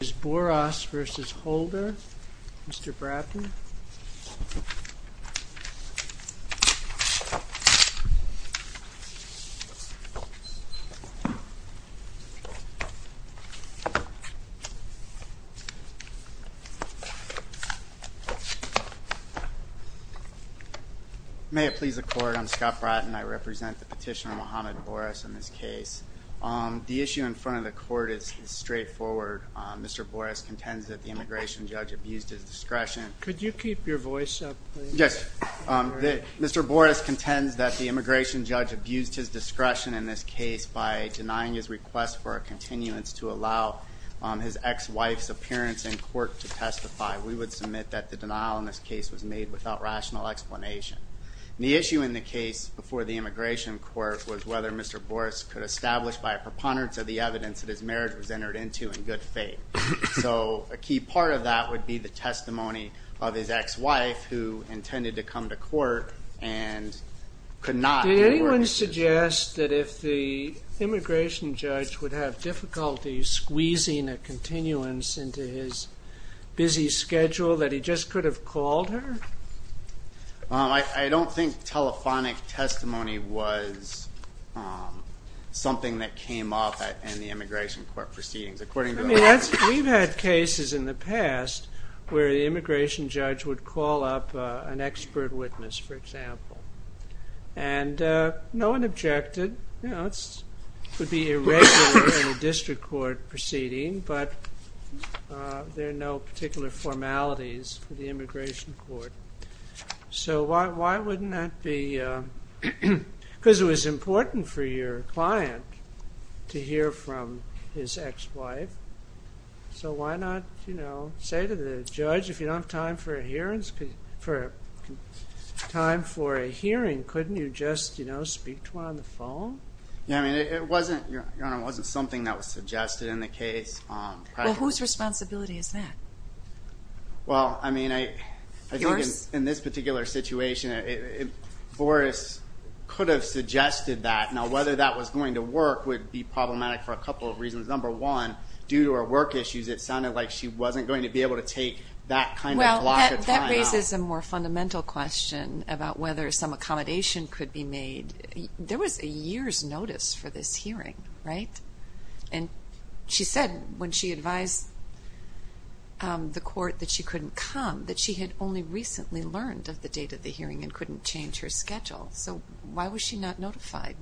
Mr. Bouras v. Holder, Mr. Bratton. May it please the Court, I'm Scott Bratton. I represent the petitioner Mohamed Bouras in this case. The issue in front of the Court is straightforward. Mr. Bouras contends that the immigration judge abused his discretion. Could you keep your voice up, please? Yes. Mr. Bouras contends that the immigration judge abused his discretion in this case by denying his request for a continuance to allow his ex-wife's appearance in court to testify. We would submit that the denial in this case was made without rational explanation. The issue in the case before the immigration court was whether Mr. Bouras could establish by a preponderance of the evidence that his marriage was entered into in good faith. So a key part of that would be the testimony of his ex-wife who intended to come to court and could not. Did anyone suggest that if the immigration judge would have difficulty squeezing a continuance into his busy schedule that he just could have called her? I don't think telephonic testimony was something that came up in the immigration court proceedings. We've had cases in the past where the immigration judge would call up an expert witness, for example. And no one objected. It would be irregular in a district court proceeding, but there are no particular formalities for the immigration court. It was important for your client to hear from his ex-wife, so why not say to the judge, if you don't have time for a hearing, couldn't you just speak to her on the phone? It wasn't something that was suggested in the case. Whose responsibility is that? Well, I mean, I think in this particular situation, Bouras could have suggested that. Now, whether that was going to work would be problematic for a couple of reasons. Number one, due to her work issues, it sounded like she wasn't going to be able to take that kind of block of time out. Well, that raises a more fundamental question about whether some accommodation could be made. There was a year's notice for this hearing, right? And she said when she advised the court that she couldn't come, that she had only recently learned of the date of the hearing and couldn't change her schedule. So why was she not notified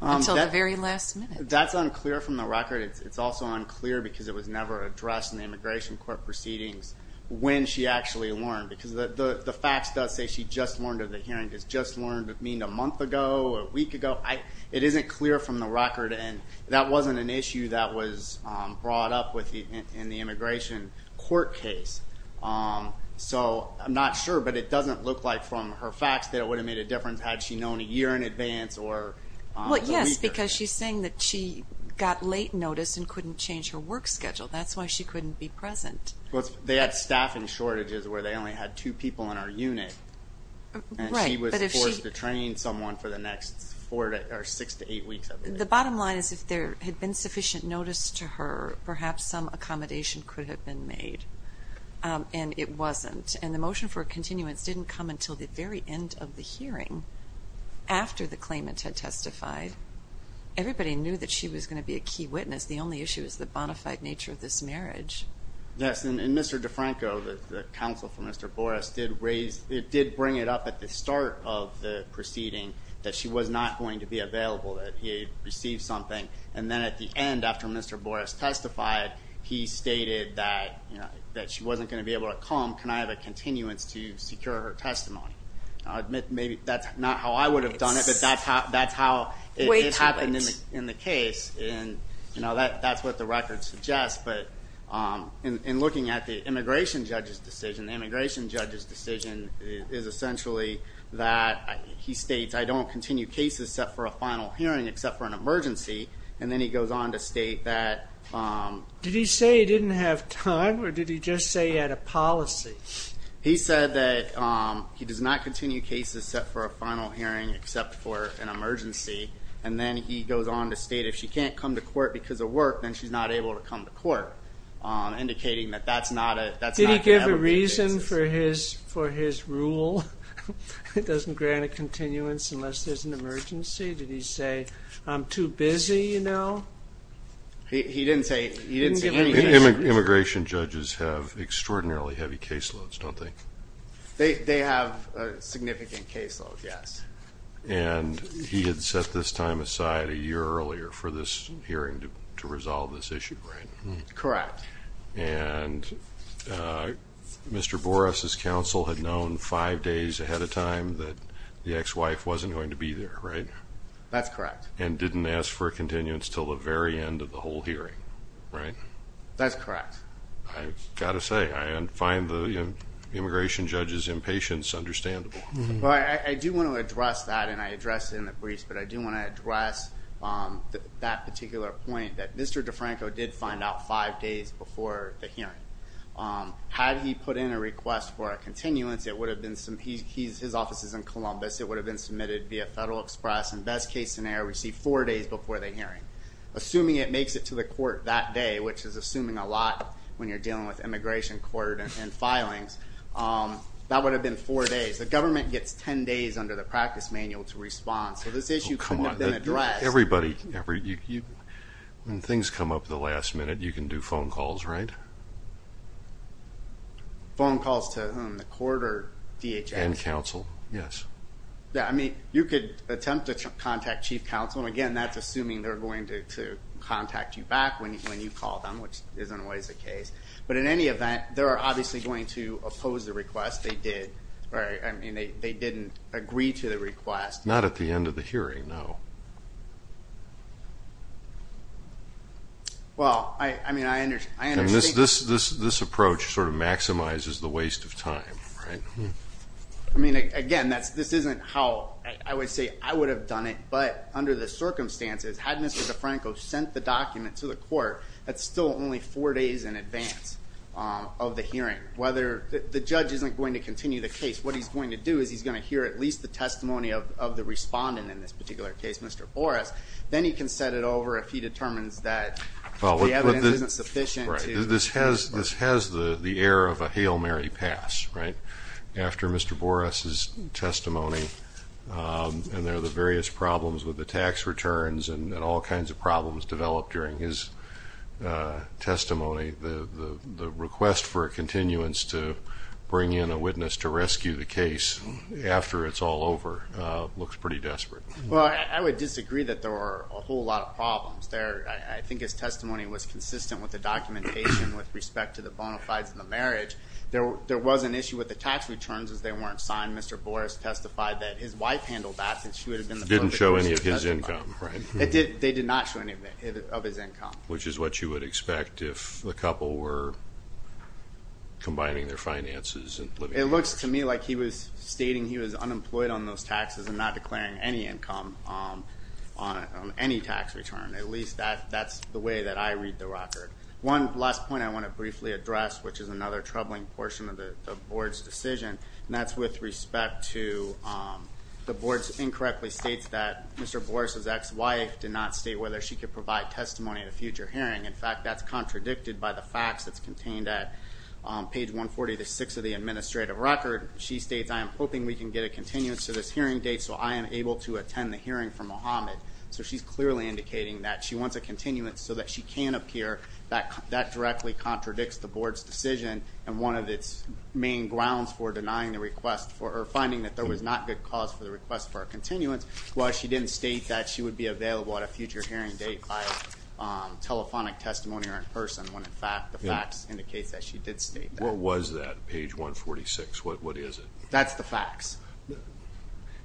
until the very last minute? That's unclear from the record. It's also unclear because it was never addressed in the immigration court proceedings when she actually learned. Because the fax does say she just learned of the hearing. Does just learn mean a month ago or a week ago? So it isn't clear from the record, and that wasn't an issue that was brought up in the immigration court case. So I'm not sure, but it doesn't look like from her fax that it would have made a difference had she known a year in advance or a week. Well, yes, because she's saying that she got late notice and couldn't change her work schedule. That's why she couldn't be present. Well, they had staffing shortages where they only had two people in our unit. And she was forced to train someone for the next six to eight weeks. The bottom line is if there had been sufficient notice to her, perhaps some accommodation could have been made, and it wasn't. And the motion for a continuance didn't come until the very end of the hearing after the claimant had testified. Everybody knew that she was going to be a key witness. The only issue is the bona fide nature of this marriage. Yes, and Mr. DeFranco, the counsel for Mr. Boris, did raise – it did bring it up at the start of the proceeding that she was not going to be available, that he had received something. And then at the end, after Mr. Boris testified, he stated that she wasn't going to be able to come. Can I have a continuance to secure her testimony? Maybe that's not how I would have done it, but that's how it happened in the case. That's what the record suggests, but in looking at the immigration judge's decision, the immigration judge's decision is essentially that he states, I don't continue cases set for a final hearing except for an emergency. And then he goes on to state that – Did he say he didn't have time, or did he just say he had a policy? He said that he does not continue cases set for a final hearing except for an emergency. And then he goes on to state if she can't come to court because of work, then she's not able to come to court, indicating that that's not going to ever be the case. Did he give a reason for his rule? He doesn't grant a continuance unless there's an emergency? Did he say, I'm too busy, you know? He didn't say anything. Immigration judges have extraordinarily heavy caseloads, don't they? They have significant caseloads, yes. And he had set this time aside a year earlier for this hearing to resolve this issue, right? Correct. And Mr. Borras' counsel had known five days ahead of time that the ex-wife wasn't going to be there, right? That's correct. And didn't ask for a continuance until the very end of the whole hearing, right? That's correct. I've got to say, I find the immigration judge's impatience understandable. I do want to address that, and I addressed it in the briefs, but I do want to address that particular point that Mr. DeFranco did find out five days before the hearing. Had he put in a request for a continuance, his office is in Columbus, it would have been submitted via Federal Express and best case scenario received four days before the hearing. Assuming it makes it to the court that day, which is assuming a lot when you're dealing with immigration court and filings, that would have been four days. The government gets ten days under the practice manual to respond, so this issue could have been addressed. Everybody, when things come up at the last minute, you can do phone calls, right? Phone calls to whom? The court or DHS? And counsel, yes. I mean, you could attempt to contact chief counsel, and again, that's assuming they're going to contact you back when you call them, which isn't always the case. But in any event, they are obviously going to oppose the request. They did. I mean, they didn't agree to the request. Not at the end of the hearing, no. Well, I mean, I understand. And this approach sort of maximizes the waste of time, right? I mean, again, this isn't how I would say I would have done it, but under the circumstances, had Mr. DeFranco sent the document to the court, that's still only four days in advance of the hearing. The judge isn't going to continue the case. What he's going to do is he's going to hear at least the testimony of the respondent in this particular case, Mr. Boras. Then he can set it over if he determines that the evidence isn't sufficient. Right. This has the air of a Hail Mary pass, right? After Mr. Boras' testimony, and there are the various problems with the tax returns and all kinds of problems developed during his testimony, the request for a continuance to bring in a witness to rescue the case after it's all over looks pretty desperate. Well, I would disagree that there were a whole lot of problems there. I think his testimony was consistent with the documentation with respect to the bona fides and the marriage. There was an issue with the tax returns as they weren't signed. Mr. Boras testified that his wife handled that since she would have been the perfect person to testify. Didn't show any of his income, right? They did not show any of his income. Which is what you would expect if the couple were combining their finances and living together. It looks to me like he was stating he was unemployed on those taxes and not declaring any income on any tax return. At least that's the way that I read the record. One last point I want to briefly address, which is another troubling portion of the Board's decision, and that's with respect to the Board's incorrectly states that Mr. Boras' ex-wife did not state whether she could provide testimony at a future hearing. In fact, that's contradicted by the facts that's contained at page 140 to 6 of the administrative record. She states, I am hoping we can get a continuance to this hearing date so I am able to attend the hearing for Mohamed. So she's clearly indicating that she wants a continuance so that she can appear. That directly contradicts the Board's decision and one of its main grounds for denying the request or finding that there was not good cause for the request for a continuance was she didn't state that she would be available at a future hearing date by telephonic testimony or in person when, in fact, the facts indicate that she did state that. What was that, page 146? What is it? That's the facts.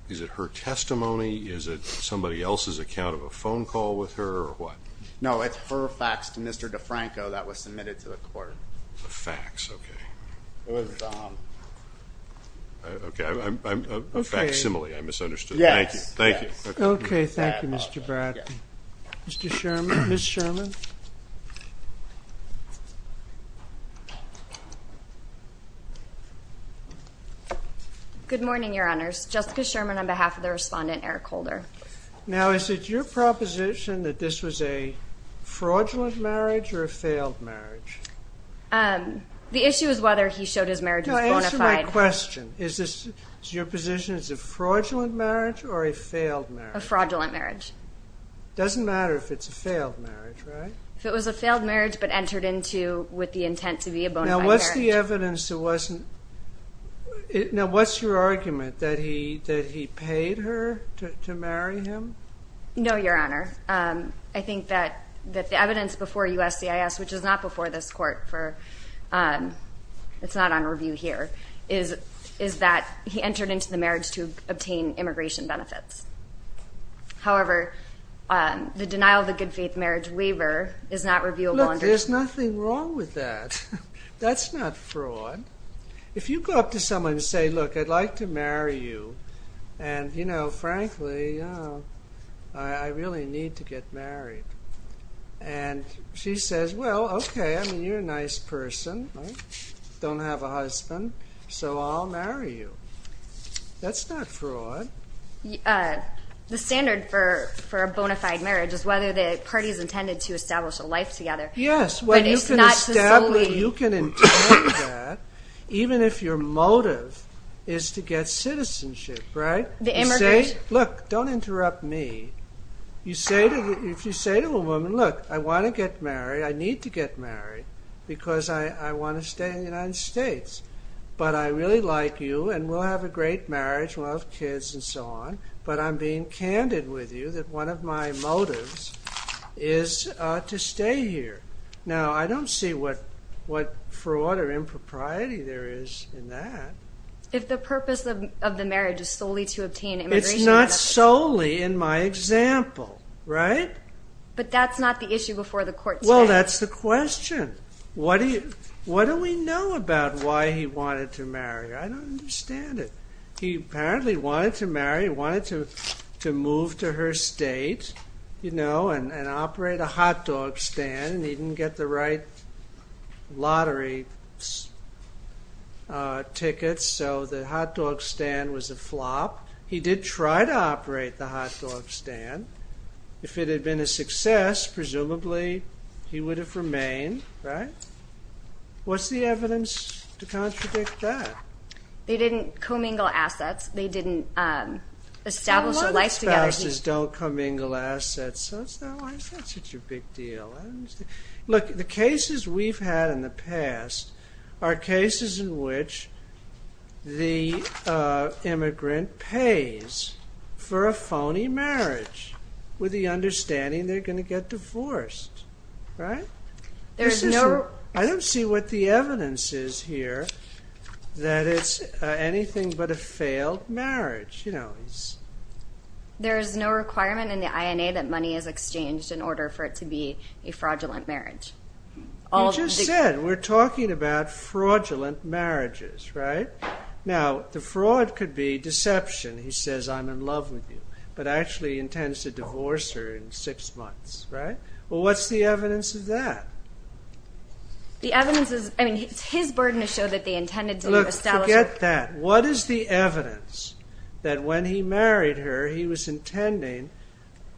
Is it her testimony? Is it somebody else's account of a phone call with her or what? No, it's her facts to Mr. DeFranco that was submitted to the court. The facts, okay. Okay, a facsimile, I misunderstood. Yes. Thank you. Okay, thank you, Mr. Bratton. Mr. Sherman? Ms. Sherman? Good morning, Your Honors. Jessica Sherman on behalf of the respondent, Eric Holder. Now, is it your proposition that this was a fraudulent marriage or a failed marriage? The issue is whether he showed his marriage was bona fide. Now, answer my question. Is this your position it's a fraudulent marriage or a failed marriage? A fraudulent marriage. Doesn't matter if it's a failed marriage, right? If it was a failed marriage but entered into with the intent to be a bona fide marriage. Now, what's the evidence it wasn't? Now, what's your argument, that he paid her to marry him? No, Your Honor. I think that the evidence before USCIS, which is not before this court, it's not on review here, is that he entered into the marriage to obtain immigration benefits. However, the denial of the good faith marriage waiver is not reviewable under… Look, there's nothing wrong with that. That's not fraud. If you go up to someone and say, look, I'd like to marry you, and, you know, frankly, I really need to get married, and she says, well, okay, I mean, you're a nice person, don't have a husband, so I'll marry you. That's not fraud. The standard for a bona fide marriage is whether the party is intended to establish a life together. Yes, when you can establish, you can intend that, even if your motive is to get citizenship, right? The immigration… Look, don't interrupt me. If you say to a woman, look, I want to get married, I need to get married because I want to stay in the United States, but I really like you, and we'll have a great marriage, we'll have kids, and so on, but I'm being candid with you that one of my motives is to stay here. Now, I don't see what fraud or impropriety there is in that. If the purpose of the marriage is solely to obtain immigration benefits… It's not solely in my example, right? But that's not the issue before the court stands. Well, that's the question. What do we know about why he wanted to marry her? I don't understand it. He apparently wanted to marry, wanted to move to her state, you know, and operate a hot dog stand, and he didn't get the right lottery tickets, so the hot dog stand was a flop. He did try to operate the hot dog stand. If it had been a success, presumably, he would have remained, right? What's the evidence to contradict that? They didn't commingle assets. They didn't establish a life together. Some of the spouses don't commingle assets, so why is that such a big deal? Look, the cases we've had in the past are cases in which the immigrant pays for a phony marriage with the understanding they're going to get divorced, right? I don't see what the evidence is here that it's anything but a failed marriage. There is no requirement in the INA that money is exchanged in order for it to be a fraudulent marriage. You just said we're talking about fraudulent marriages, right? Now, the fraud could be deception. He says, I'm in love with you, but actually intends to divorce her in six months, right? Well, what's the evidence of that? The evidence is, I mean, his burden to show that they intended to establish a What is the evidence that when he married her, he was intending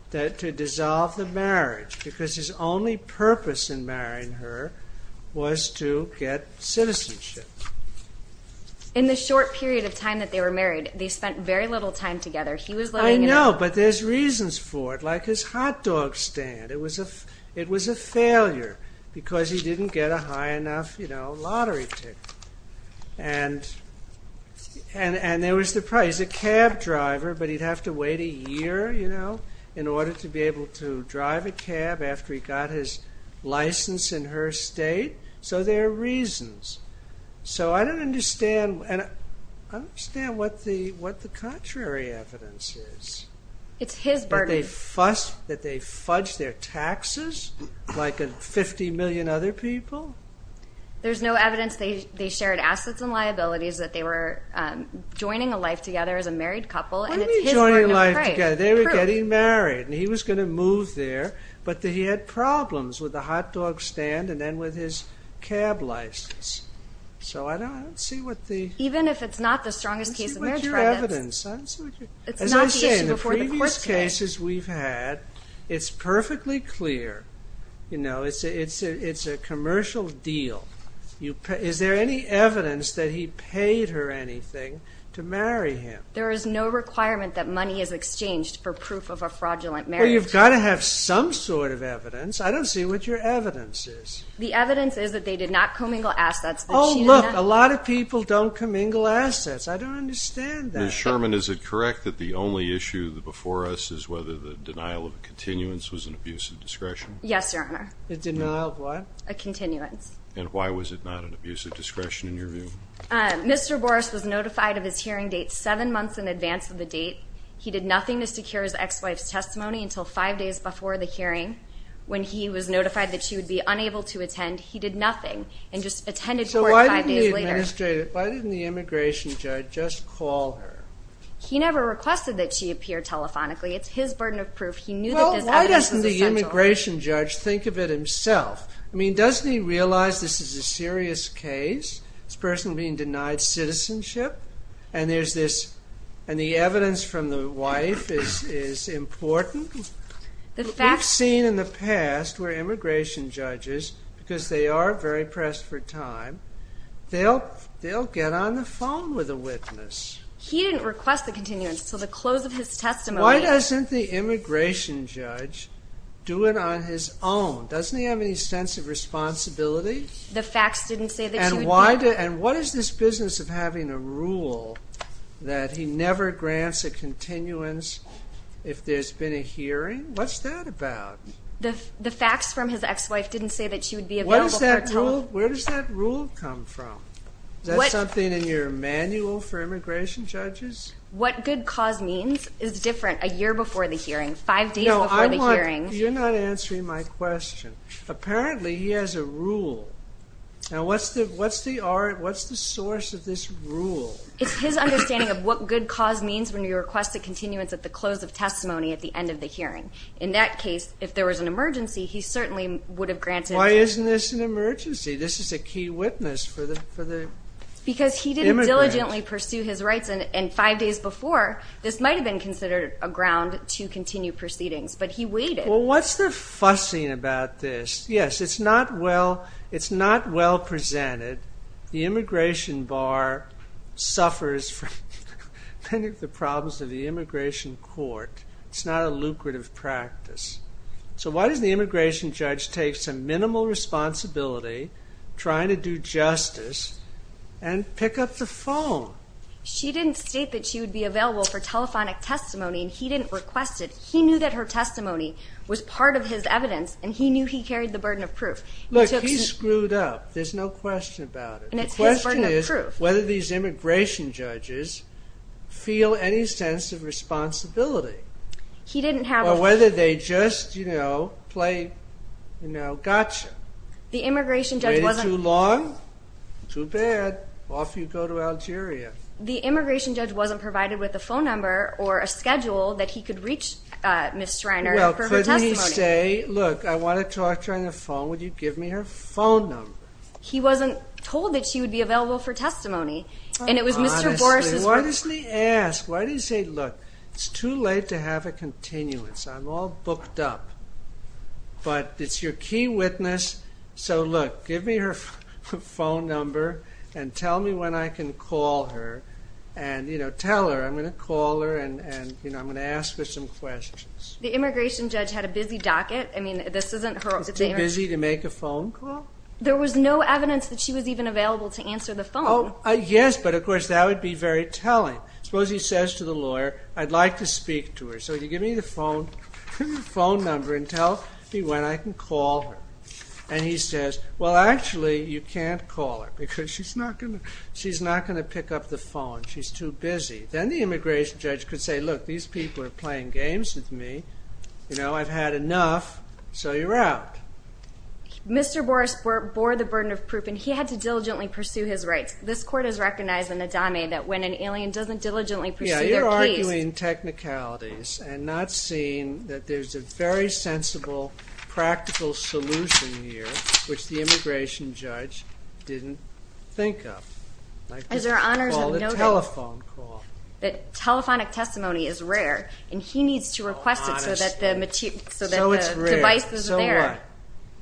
to dissolve the marriage because his only purpose in marrying her was to get citizenship? In the short period of time that they were married, they spent very little time together. I know, but there's reasons for it, like his hot dog stand. It was a failure because he didn't get a high enough lottery ticket. And there was the price, a cab driver, but he'd have to wait a year, you know, in order to be able to drive a cab after he got his license in her state. So there are reasons. So I don't understand what the contrary evidence is. It's his burden. That they fudged their taxes like 50 million other people? There's no evidence they shared assets and liabilities, that they were joining a life together as a married couple, and it's his burden of pride. What do you mean joining a life together? They were getting married, and he was going to move there, but he had problems with the hot dog stand and then with his cab license. So I don't see what the Even if it's not the strongest case of marriage prejudice I don't see what your evidence. It's not the issue before the court today. As I say, in the previous cases we've had, it's perfectly clear. You know, it's a commercial deal. Is there any evidence that he paid her anything to marry him? There is no requirement that money is exchanged for proof of a fraudulent marriage. Well, you've got to have some sort of evidence. I don't see what your evidence is. The evidence is that they did not commingle assets. Oh, look, a lot of people don't commingle assets. I don't understand that. Ms. Sherman, is it correct that the only issue before us is whether the denial of continuance was an abuse of discretion? Yes, Your Honor. A denial of what? A continuance. And why was it not an abuse of discretion in your view? Mr. Boris was notified of his hearing date seven months in advance of the date. He did nothing to secure his ex-wife's testimony until five days before the hearing. When he was notified that she would be unable to attend, he did nothing and just attended court five days later. So why didn't the immigration judge just call her? He never requested that she appear telephonically. It's his burden of proof. He knew that this evidence was essential. Well, why doesn't the immigration judge think of it himself? I mean, doesn't he realize this is a serious case, this person being denied citizenship, and the evidence from the wife is important? We've seen in the past where immigration judges, because they are very pressed for time, they'll get on the phone with a witness. He didn't request the continuance until the close of his testimony. Why doesn't the immigration judge do it on his own? Doesn't he have any sense of responsibility? The facts didn't say that she would be able to. And what is this business of having a rule that he never grants a continuance if there's been a hearing? What's that about? The facts from his ex-wife didn't say that she would be available for a telephone. Where does that rule come from? Is that something in your manual for immigration judges? What good cause means is different a year before the hearing, five days before the hearing. You're not answering my question. Apparently he has a rule. Now, what's the source of this rule? It's his understanding of what good cause means when you request a continuance at the close of testimony at the end of the hearing. In that case, if there was an emergency, he certainly would have granted it. Why isn't this an emergency? This is a key witness for the immigrant. Because he didn't diligently pursue his rights, and five days before, this might have been considered a ground to continue proceedings. But he waited. Well, what's the fussing about this? Yes, it's not well presented. The immigration bar suffers from many of the problems of the immigration court. It's not a lucrative practice. So why does the immigration judge take some minimal responsibility, trying to do justice, and pick up the phone? She didn't state that she would be available for telephonic testimony, and he didn't request it. He knew that her testimony was part of his evidence, and he knew he carried the burden of proof. Look, he screwed up. There's no question about it. And it's his burden of proof. The question is whether these immigration judges feel any sense of responsibility. He didn't have a feel. Or whether they just, you know, play, you know, gotcha. The immigration judge wasn't. Waited too long? Too bad. Off you go to Algeria. The immigration judge wasn't provided with a phone number or a schedule that he could reach Ms. Schreiner for her testimony. Well, couldn't he say, look, I want to talk to her on the phone. Would you give me her phone number? He wasn't told that she would be available for testimony. And it was Mr. Boris's. Honestly, why doesn't he ask? Why doesn't he say, look, it's too late to have a continuance. I'm all booked up. But it's your key witness. So, look, give me her phone number and tell me when I can call her. And, you know, tell her I'm going to call her and, you know, I'm going to ask her some questions. The immigration judge had a busy docket. I mean, this isn't her. Busy to make a phone call? There was no evidence that she was even available to answer the phone. Yes, but, of course, that would be very telling. Suppose he says to the lawyer, I'd like to speak to her. So, would you give me the phone number and tell me when I can call her? And he says, well, actually, you can't call her because she's not going to pick up the phone. She's too busy. Then the immigration judge could say, look, these people are playing games with me. You know, I've had enough, so you're out. Mr. Boris bore the burden of proof, and he had to diligently pursue his rights. This court has recognized in the DAME that when an alien doesn't diligently pursue their case. Continuing technicalities and not seeing that there's a very sensible, practical solution here, which the immigration judge didn't think of. As our honors have noted, that telephonic testimony is rare, and he needs to request it so that the device is there. So it's rare.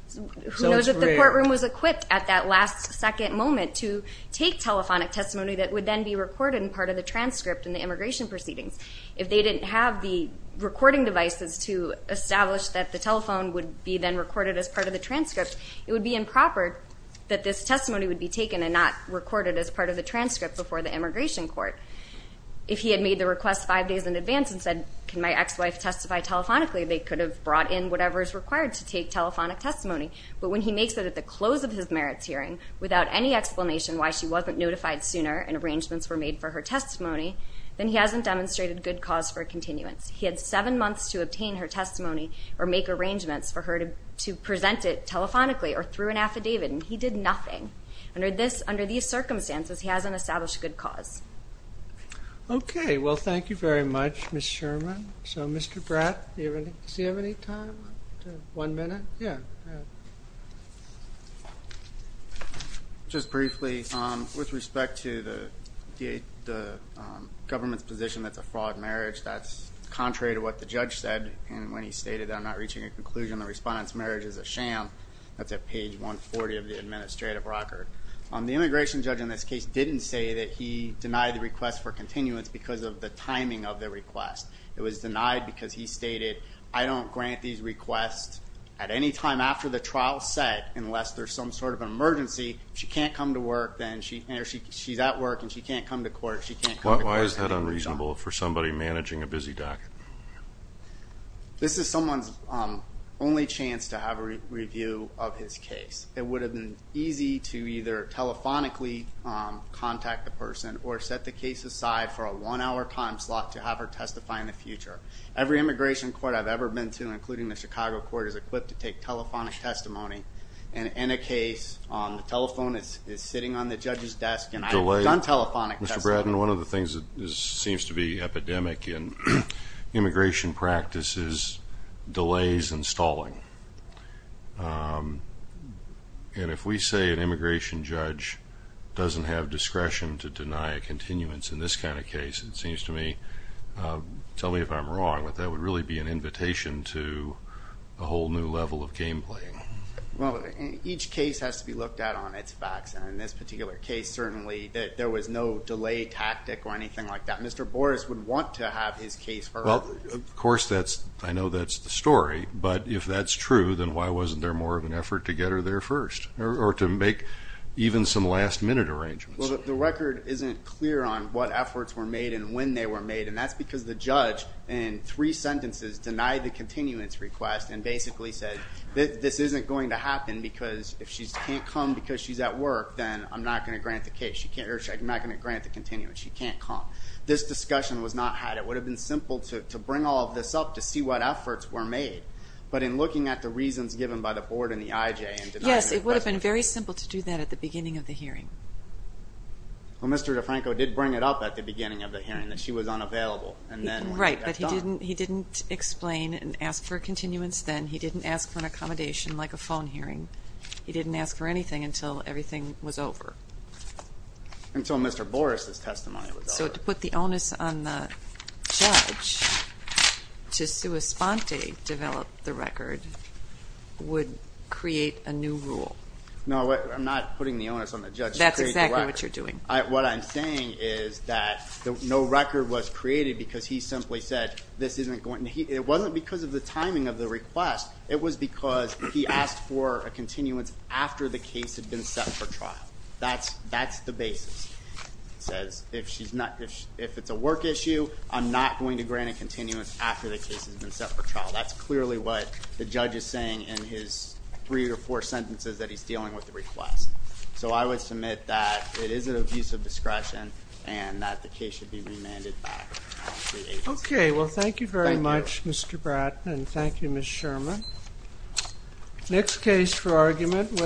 So what? Who knows if the courtroom was equipped at that last second moment to take telephonic testimony that would then be recorded in part of the transcript in the immigration proceedings. If they didn't have the recording devices to establish that the telephone would be then recorded as part of the transcript, it would be improper that this testimony would be taken and not recorded as part of the transcript before the immigration court. If he had made the request five days in advance and said, can my ex-wife testify telephonically, they could have brought in whatever is required to take telephonic testimony. But when he makes it at the close of his merits hearing without any explanation why she wasn't notified sooner and arrangements were made for her testimony, then he hasn't demonstrated good cause for continuance. He had seven months to obtain her testimony or make arrangements for her to present it telephonically or through an affidavit, and he did nothing. Under these circumstances, he hasn't established good cause. Okay. Well, thank you very much, Ms. Sherman. So, Mr. Bratt, does he have any time? One minute? Yeah. Just briefly, with respect to the government's position that it's a fraud marriage, that's contrary to what the judge said when he stated that I'm not reaching a conclusion, the respondent's marriage is a sham. That's at page 140 of the administrative record. The immigration judge in this case didn't say that he denied the request for continuance because of the timing of the request. It was denied because he stated, I don't grant these requests at any time after the trial's set unless there's some sort of emergency. If she can't come to work, then she's at work and she can't come to court. Why is that unreasonable for somebody managing a busy docket? This is someone's only chance to have a review of his case. It would have been easy to either telephonically contact the person or set the case aside for a one-hour time slot to have her testify in the future. Every immigration court I've ever been to, including the Chicago court, is equipped to take telephonic testimony. And in a case, the telephone is sitting on the judge's desk and I've done telephonic testimony. Mr. Bratton, one of the things that seems to be epidemic in immigration practice is delays and stalling. And if we say an immigration judge doesn't have discretion to deny a continuance in this kind of case, it seems to me, tell me if I'm wrong, but that would really be an invitation to a whole new level of game playing. Well, each case has to be looked at on its facts. And in this particular case, certainly, there was no delay tactic or anything like that. Mr. Boris would want to have his case heard. Well, of course, I know that's the story. But if that's true, then why wasn't there more of an effort to get her there first or to make even some last-minute arrangements? Well, the record isn't clear on what efforts were made and when they were made, and that's because the judge in three sentences denied the continuance request and basically said this isn't going to happen because if she can't come because she's at work, then I'm not going to grant the case. I'm not going to grant the continuance. She can't come. This discussion was not had. It would have been simple to bring all of this up to see what efforts were made, but in looking at the reasons given by the board and the IJ and denying it. Yes, it would have been very simple to do that at the beginning of the hearing. Well, Mr. DeFranco did bring it up at the beginning of the hearing that she was unavailable. Right, but he didn't explain and ask for a continuance then. He didn't ask for an accommodation like a phone hearing. He didn't ask for anything until everything was over. Until Mr. Boris' testimony was over. So to put the onus on the judge to sua sponte develop the record would create a new rule. No, I'm not putting the onus on the judge to create the record. That's exactly what you're doing. What I'm saying is that no record was created because he simply said this isn't going to happen. It wasn't because of the timing of the request. It was because he asked for a continuance after the case had been set for trial. That's the basis. He says if it's a work issue, I'm not going to grant a continuance after the case has been set for trial. That's clearly what the judge is saying in his three or four sentences that he's dealing with the request. So I would submit that it is an abuse of discretion and that the case should be remanded back to the agency. Okay, well thank you very much, Mr. Bratton, and thank you, Ms. Sherman. Next case for argument.